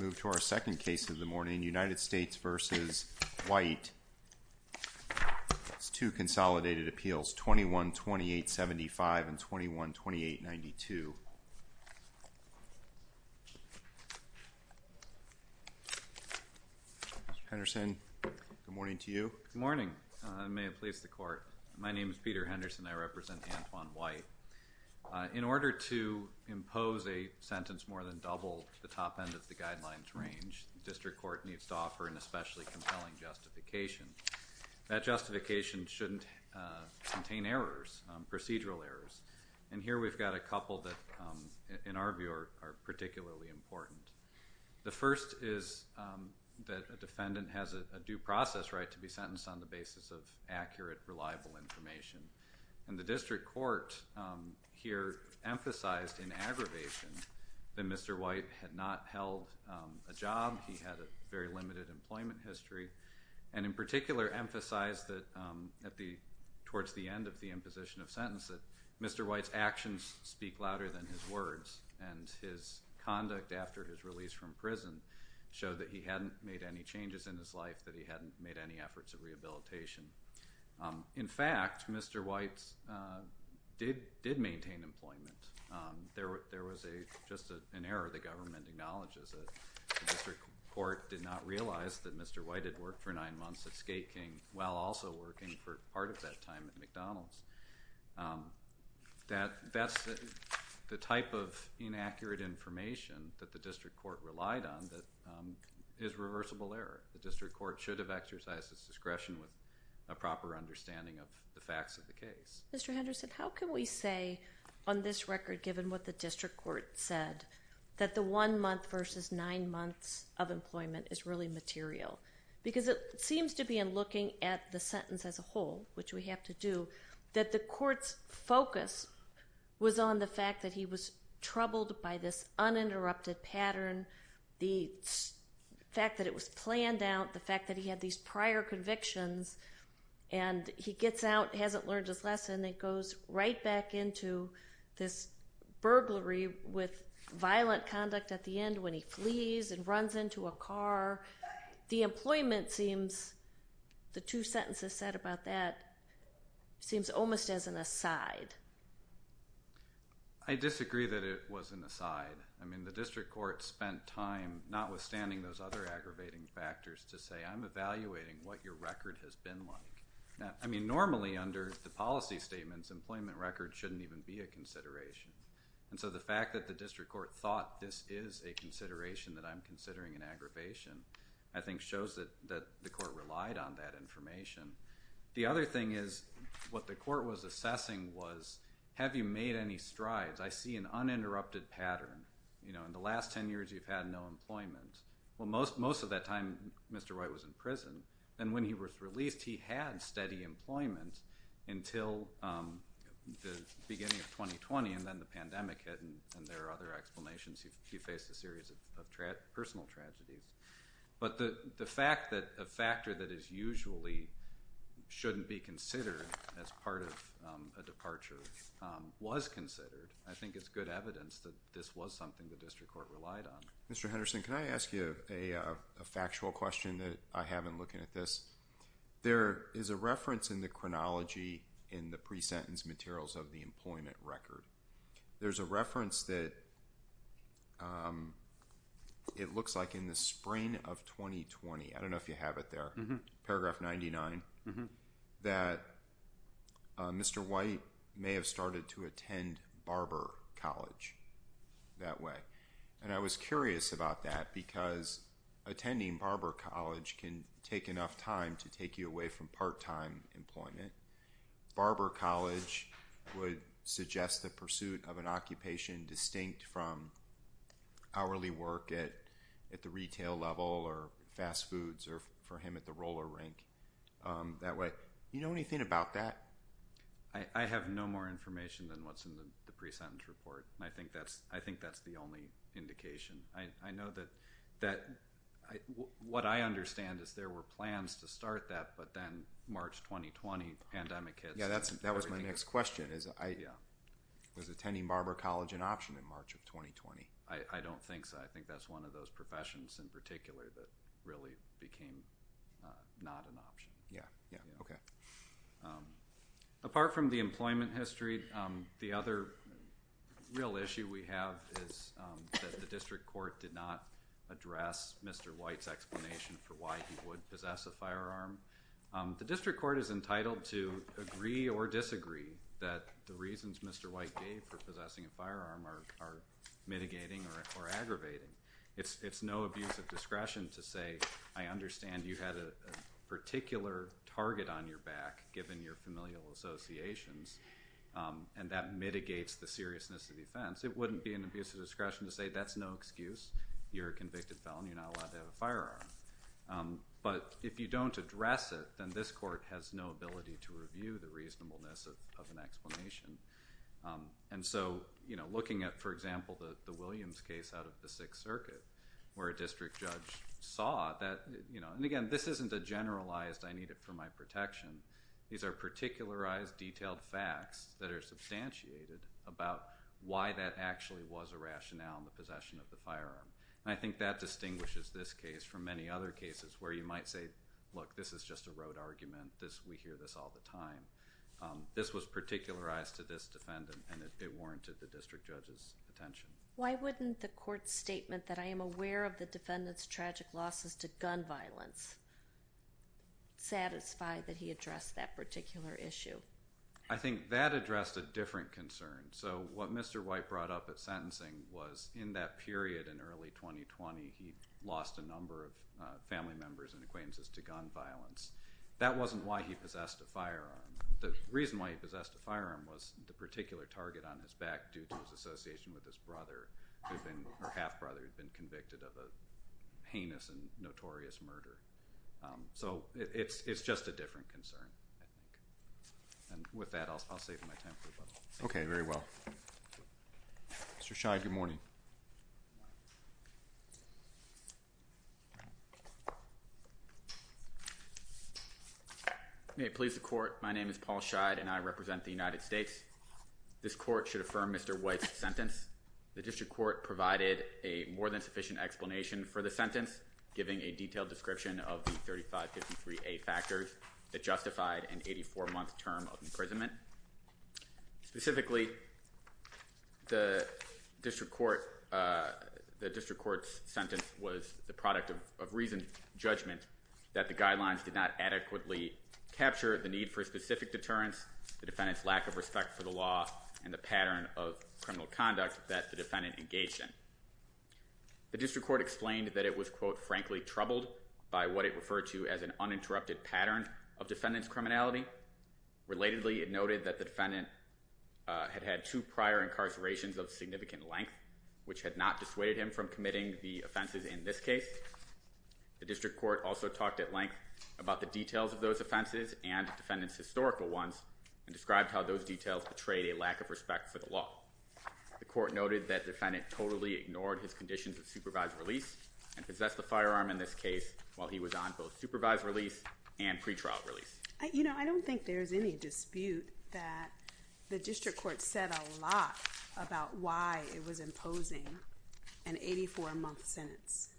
Move to our second case of the morning, United States v. White. Two consolidated appeals, 21-2875 and 21-2892. Mr. Henderson, good morning to you. Good morning. May it please the Court. My name is Peter Henderson. I represent Antoine White. In order to impose a sentence more than double the top end of the guidelines range, the District Court needs to offer an especially compelling justification. That justification shouldn't contain errors, procedural errors. And here we've got a couple that, in our view, are particularly important. The first is that a defendant has a due process right to be sentenced on the basis of accurate, reliable information. And the District Court here emphasized in aggravation that Mr. White had not held a job, he had a very limited employment history, and in particular emphasized that towards the end of the imposition of sentence that Mr. White's actions speak louder than his words. And his conduct after his release from prison showed that he hadn't made any changes in his life, that he hadn't made any efforts of rehabilitation. In fact, Mr. White did maintain employment. There was just an error the government acknowledges. The District Court did not realize that Mr. White had worked for nine months at Skate King while also working for part of that time at McDonald's. That's the type of inaccurate information that the District Court relied on that is reversible error. The District Court should have exercised its discretion with a proper understanding of the facts of the case. Mr. Henderson, how can we say on this record, given what the District Court said, that the one month versus nine months of employment is really material? Because it seems to be in looking at the sentence as a whole, which we have to do, that the Court's focus was on the fact that he was troubled by this uninterrupted pattern, the fact that it was planned out, the fact that he had these prior convictions, and he gets out, hasn't learned his lesson, and goes right back into this burglary with violent conduct at the end when he flees and runs into a car. The employment seems, the two sentences said about that, seems almost as an aside. I disagree that it was an aside. I mean, the District Court spent time notwithstanding those other aggravating factors to say, I'm evaluating what your record has been like. I mean, normally under the policy statements, employment records shouldn't even be a consideration. And so the fact that the District Court thought this is a consideration that I'm considering an aggravation, I think shows that the Court relied on that information. The other thing is what the Court was assessing was, have you made any strides? I see an uninterrupted pattern. You know, in the last ten years you've had no employment. Well, most of that time Mr. Roy was in prison, and when he was released, he had steady employment until the beginning of 2020, and then the pandemic hit, and there are other explanations. He faced a series of personal tragedies. But the fact that a factor that is usually shouldn't be considered as part of a departure was considered, I think it's good evidence that this was something the District Court relied on. Mr. Henderson, can I ask you a factual question that I have in looking at this? There is a reference in the chronology in the pre-sentence materials of the employment record. There's a reference that it looks like in the spring of 2020, I don't know if you have it there, paragraph 99, that Mr. White may have started to attend Barber College that way. And I was curious about that because attending Barber College can take enough time to take you away from part-time employment. Barber College would suggest the pursuit of an occupation distinct from hourly work at the retail level or fast foods or for him at the roller rink that way. Do you know anything about that? I have no more information than what's in the pre-sentence report, and I think that's the only indication. I know that what I understand is there were plans to start that, but then March 2020 pandemic hit. Yeah, that was my next question. Was attending Barber College an option in March of 2020? I don't think so. I think that's one of those professions in particular that really became not an option. Yeah, okay. Apart from the employment history, the other real issue we have is that the district court did not address Mr. White's explanation for why he would possess a firearm. The district court is entitled to agree or disagree that the reasons Mr. White gave for possessing a firearm are mitigating or aggravating. It's no abuse of discretion to say, I understand you had a particular target on your back given your familial associations, and that mitigates the seriousness of the offense. It wouldn't be an abuse of discretion to say that's no excuse. You're a convicted felon. You're not allowed to have a firearm. But if you don't address it, then this court has no ability to review the reasonableness of an explanation. And so looking at, for example, the Williams case out of the Sixth Circuit where a district judge saw that, and again, this isn't a generalized I need it for my protection. These are particularized, detailed facts that are substantiated about why that actually was a rationale in the possession of the firearm. And I think that distinguishes this case from many other cases where you might say, look, this is just a rote argument. We hear this all the time. This was particularized to this defendant, and it warranted the district judge's attention. Why wouldn't the court's statement that I am aware of the defendant's tragic losses to gun violence satisfy that he addressed that particular issue? I think that addressed a different concern. So what Mr. White brought up at sentencing was in that period in early 2020, he lost a number of family members in acquaintances to gun violence. That wasn't why he possessed a firearm. The reason why he possessed a firearm was the particular target on his back due to his association with his brother, or half-brother who had been convicted of a heinous and notorious murder. So it's just a different concern, I think. And with that, I'll save you my time. Okay, very well. Mr. Scheid, good morning. Good morning. May it please the court, my name is Paul Scheid, and I represent the United States. This court should affirm Mr. White's sentence. The district court provided a more than sufficient explanation for the sentence, giving a detailed description of the 3553A factors that justified an 84-month term of imprisonment. Specifically, the district court's sentence was the product of reasoned judgment that the guidelines did not adequately capture the need for specific deterrence, the defendant's lack of respect for the law, and the pattern of criminal conduct that the defendant engaged in. The district court explained that it was, quote, frankly troubled by what it referred to as an uninterrupted pattern of defendant's criminality. Relatedly, it noted that the defendant had had two prior incarcerations of significant length, which had not dissuaded him from committing the offenses in this case. The district court also talked at length about the details of those offenses and the defendant's historical ones and described how those details betrayed a lack of respect for the law. The court noted that the defendant totally ignored his conditions of supervised release and possessed a firearm in this case while he was on both supervised release and pretrial release. You know, I don't think there's any dispute that the district court said a lot about why it was imposing an 84-month sentence.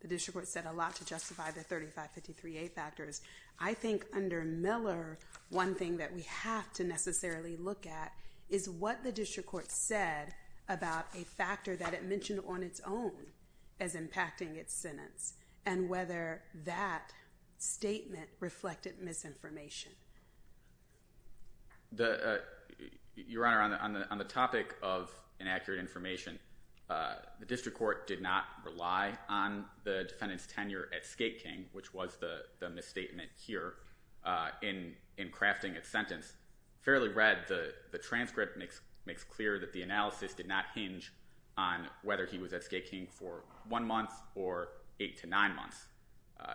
The district court said a lot to justify the 3553A factors. I think under Miller, one thing that we have to necessarily look at is what the district court said about a factor that it mentioned on its own as impacting its sentence and whether that statement reflected misinformation. Your Honor, on the topic of inaccurate information, the district court did not rely on the defendant's tenure at Skate King, which was the misstatement here, in crafting its sentence. Fairly read, the transcript makes clear that the analysis did not hinge on whether he was at Skate King for one month or eight to nine months.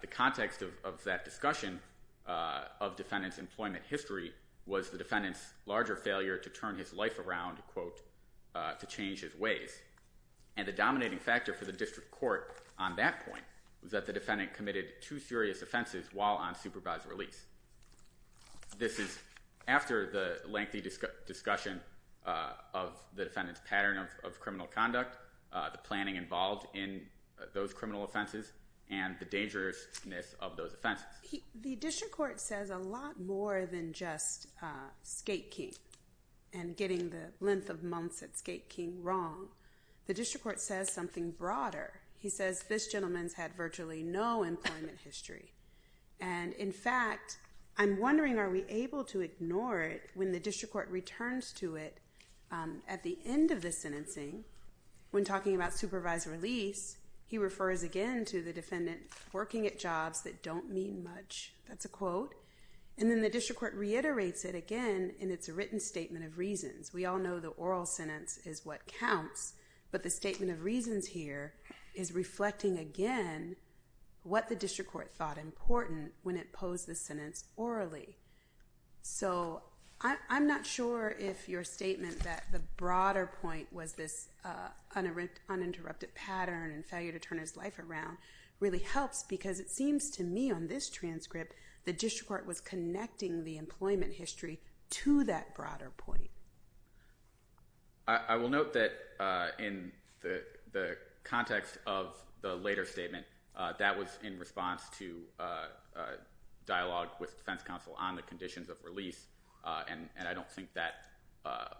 The context of that discussion of defendant's employment history was the defendant's larger failure to turn his life around, quote, to change his ways. And the dominating factor for the district court on that point was that the defendant committed two serious offenses while on supervised release. This is after the lengthy discussion of the defendant's pattern of criminal conduct, the planning involved in those criminal offenses, and the dangerousness of those offenses. The district court says a lot more than just Skate King and getting the length of months at Skate King wrong. The district court says something broader. He says this gentleman's had virtually no employment history. And, in fact, I'm wondering, are we able to ignore it when the district court returns to it at the end of the sentencing when talking about supervised release? He refers again to the defendant working at jobs that don't mean much. That's a quote. And then the district court reiterates it again in its written statement of reasons. We all know the oral sentence is what counts. But the statement of reasons here is reflecting, again, what the district court thought important when it posed the sentence orally. So I'm not sure if your statement that the broader point was this uninterrupted pattern and failure to turn his life around really helps because it seems to me on this transcript the district court was connecting the employment history to that broader point. I will note that in the context of the later statement, that was in response to dialogue with defense counsel on the conditions of release. And I don't think that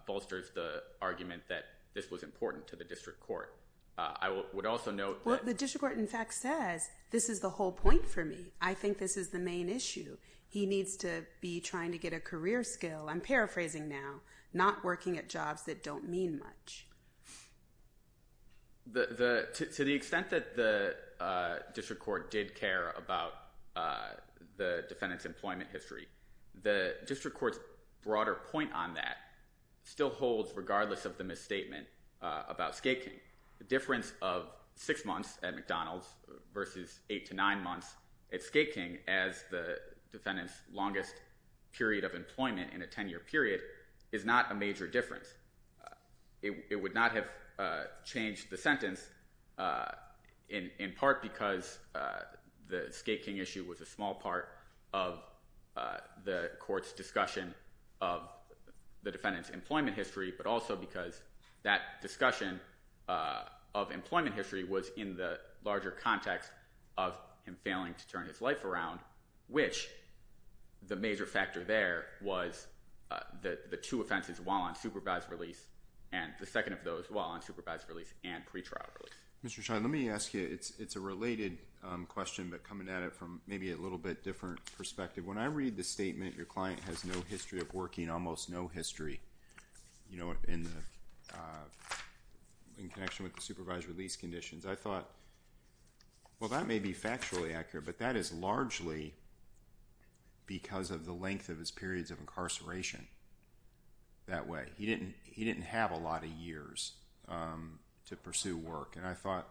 bolsters the argument that this was important to the district court. I would also note that— Well, the district court, in fact, says this is the whole point for me. I think this is the main issue. He needs to be trying to get a career skill. I'm paraphrasing now, not working at jobs that don't mean much. To the extent that the district court did care about the defendant's employment history, the district court's broader point on that still holds regardless of the misstatement about Skate King. The difference of six months at McDonald's versus eight to nine months at Skate King as the defendant's longest period of employment in a 10-year period is not a major difference. It would not have changed the sentence in part because the Skate King issue was a small part of the court's discussion of the defendant's employment history, but also because that discussion of employment history was in the larger context of him failing to turn his life around, which the major factor there was the two offenses while on supervised release and the second of those while on supervised release and pretrial release. Mr. Shah, let me ask you. It's a related question, but coming at it from maybe a little bit different perspective. When I read the statement, your client has no history of working, almost no history in connection with the supervised release conditions, I thought, well, that may be factually accurate, but that is largely because of the length of his periods of incarceration that way. He didn't have a lot of years to pursue work, and I thought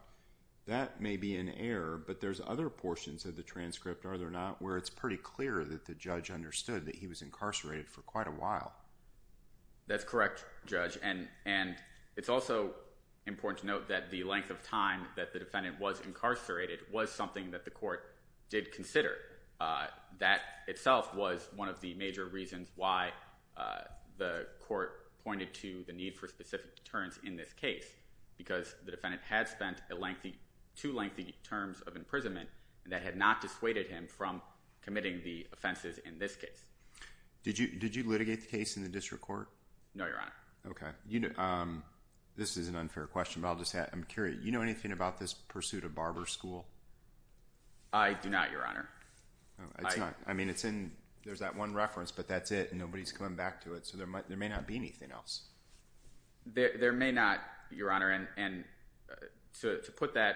that may be an error, but there's other portions of the transcript, are there not, where it's pretty clear that the judge understood that he was incarcerated for quite a while. That's correct, Judge, and it's also important to note that the length of time that the defendant was incarcerated was something that the court did consider. That itself was one of the major reasons why the court pointed to the need for specific deterrence in this case because the defendant had spent two lengthy terms of imprisonment that had not dissuaded him from committing the offenses in this case. Did you litigate the case in the district court? No, Your Honor. Okay. This is an unfair question, but I'm curious. Do you know anything about this pursuit of barber school? I do not, Your Honor. There's that one reference, but that's it, and nobody's coming back to it, so there may not be anything else. There may not, Your Honor, and to put that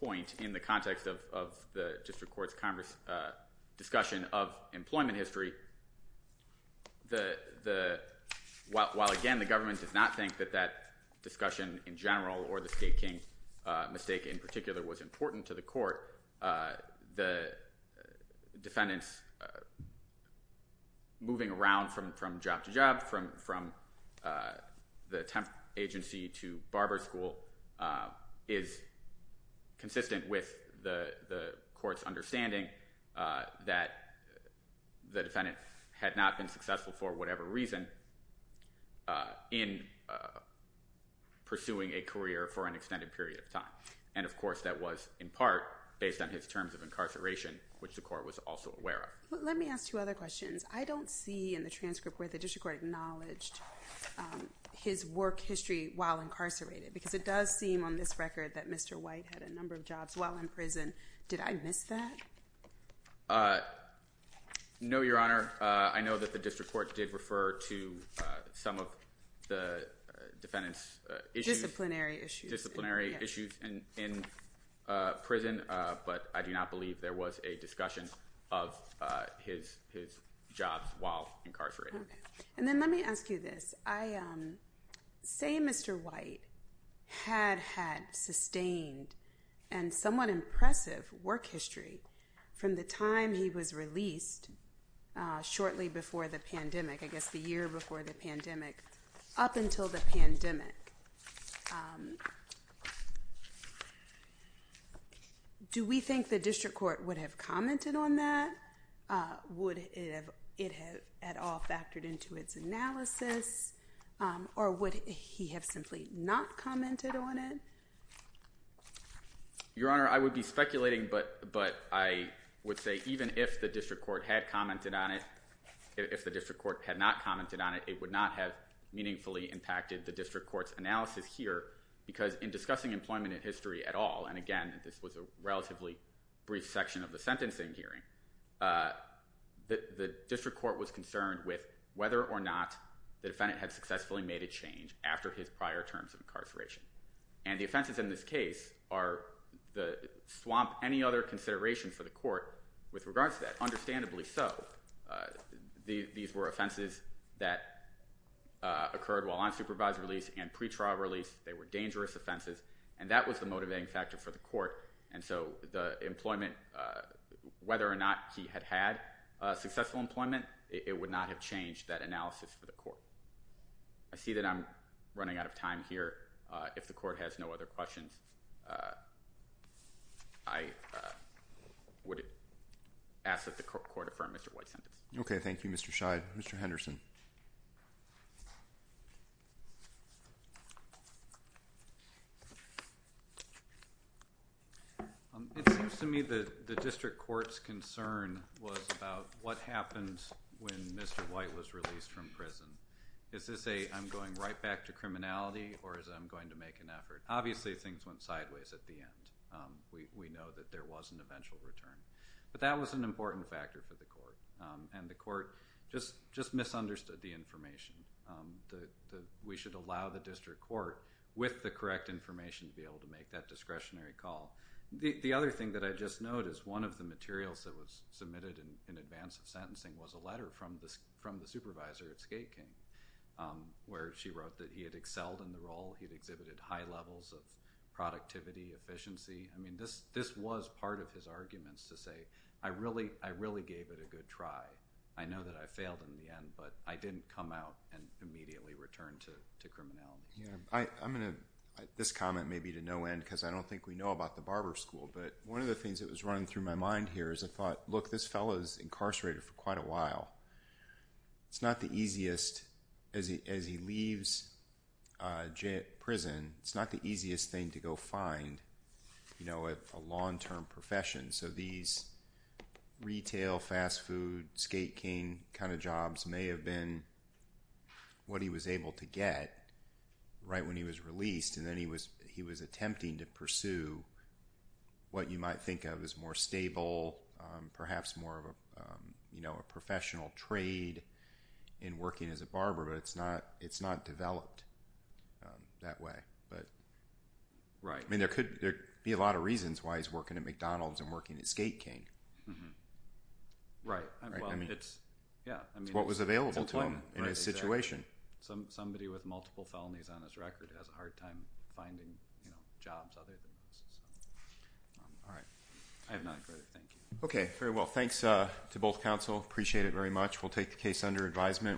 point in the context of the district court's discussion of employment history, while, again, the government does not think that that discussion in general or the Skate King mistake in particular was important to the court, the defendant's moving around from job to job, from the temp agency to barber school is consistent with the court's understanding that the defendant had not been successful for whatever reason in pursuing a career for an extended period of time. And, of course, that was in part based on his terms of incarceration, which the court was also aware of. Let me ask two other questions. I don't see in the transcript where the district court acknowledged his work history while incarcerated because it does seem on this record that Mr. White had a number of jobs while in prison. Did I miss that? No, Your Honor. I know that the district court did refer to some of the defendant's issues. Disciplinary issues. Disciplinary issues in prison, but I do not believe there was a discussion of his jobs while incarcerated. And then let me ask you this. Say Mr. White had had sustained and somewhat impressive work history from the time he was released shortly before the pandemic, I guess the year before the pandemic, up until the pandemic, do we think the district court would have commented on that? Would it have at all factored into its analysis? Or would he have simply not commented on it? Your Honor, I would be speculating, but I would say even if the district court had commented on it, if the district court had not commented on it, it would not have meaningfully impacted the district court's analysis here because in discussing employment history at all, and again, this was a relatively brief section of the sentencing hearing, the district court was concerned with whether or not the defendant had successfully made a change after his prior terms of incarceration. And the offenses in this case swamp any other consideration for the court with regards to that. Understandably so. These were offenses that occurred while on supervised release and pretrial release. They were dangerous offenses, and that was the motivating factor for the court. And so the employment, whether or not he had had successful employment, it would not have changed that analysis for the court. I see that I'm running out of time here. If the court has no other questions, I would ask that the court affirm Mr. White's sentence. Okay, thank you, Mr. Scheid. Mr. Henderson. It seems to me that the district court's concern was about what happened when Mr. White was released from prison. Is this a I'm going right back to criminality, or is it I'm going to make an effort? Obviously, things went sideways at the end. We know that there was an eventual return. But that was an important factor for the court, and the court just misunderstood the information. We should allow the district court, with the correct information, to be able to make that discretionary call. The other thing that I just noted is one of the materials that was submitted in advance of sentencing was a letter from the supervisor at Skate King, where she wrote that he had excelled in the role. He had exhibited high levels of productivity, efficiency. I mean, this was part of his arguments to say, I really gave it a good try. I know that I failed in the end, but I didn't come out and immediately return to criminality. This comment may be to no end because I don't think we know about the barber school, but one of the things that was running through my mind here is I thought, look, this fellow is incarcerated for quite a while. As he leaves prison, it's not the easiest thing to go find a long-term profession. So these retail, fast food, skate king kind of jobs may have been what he was able to get right when he was released, and then he was attempting to pursue what you might think of as more stable, perhaps more of a professional trade in working as a barber, but it's not developed that way. I mean, there could be a lot of reasons why he's working at McDonald's and working at Skate King. It's what was available to him in his situation. Somebody with multiple felonies on his record has a hard time finding jobs other than this. All right. I have nothing further. Thank you. Okay. Very well. Thanks to both counsel. Appreciate it very much. We'll take the case under advisement.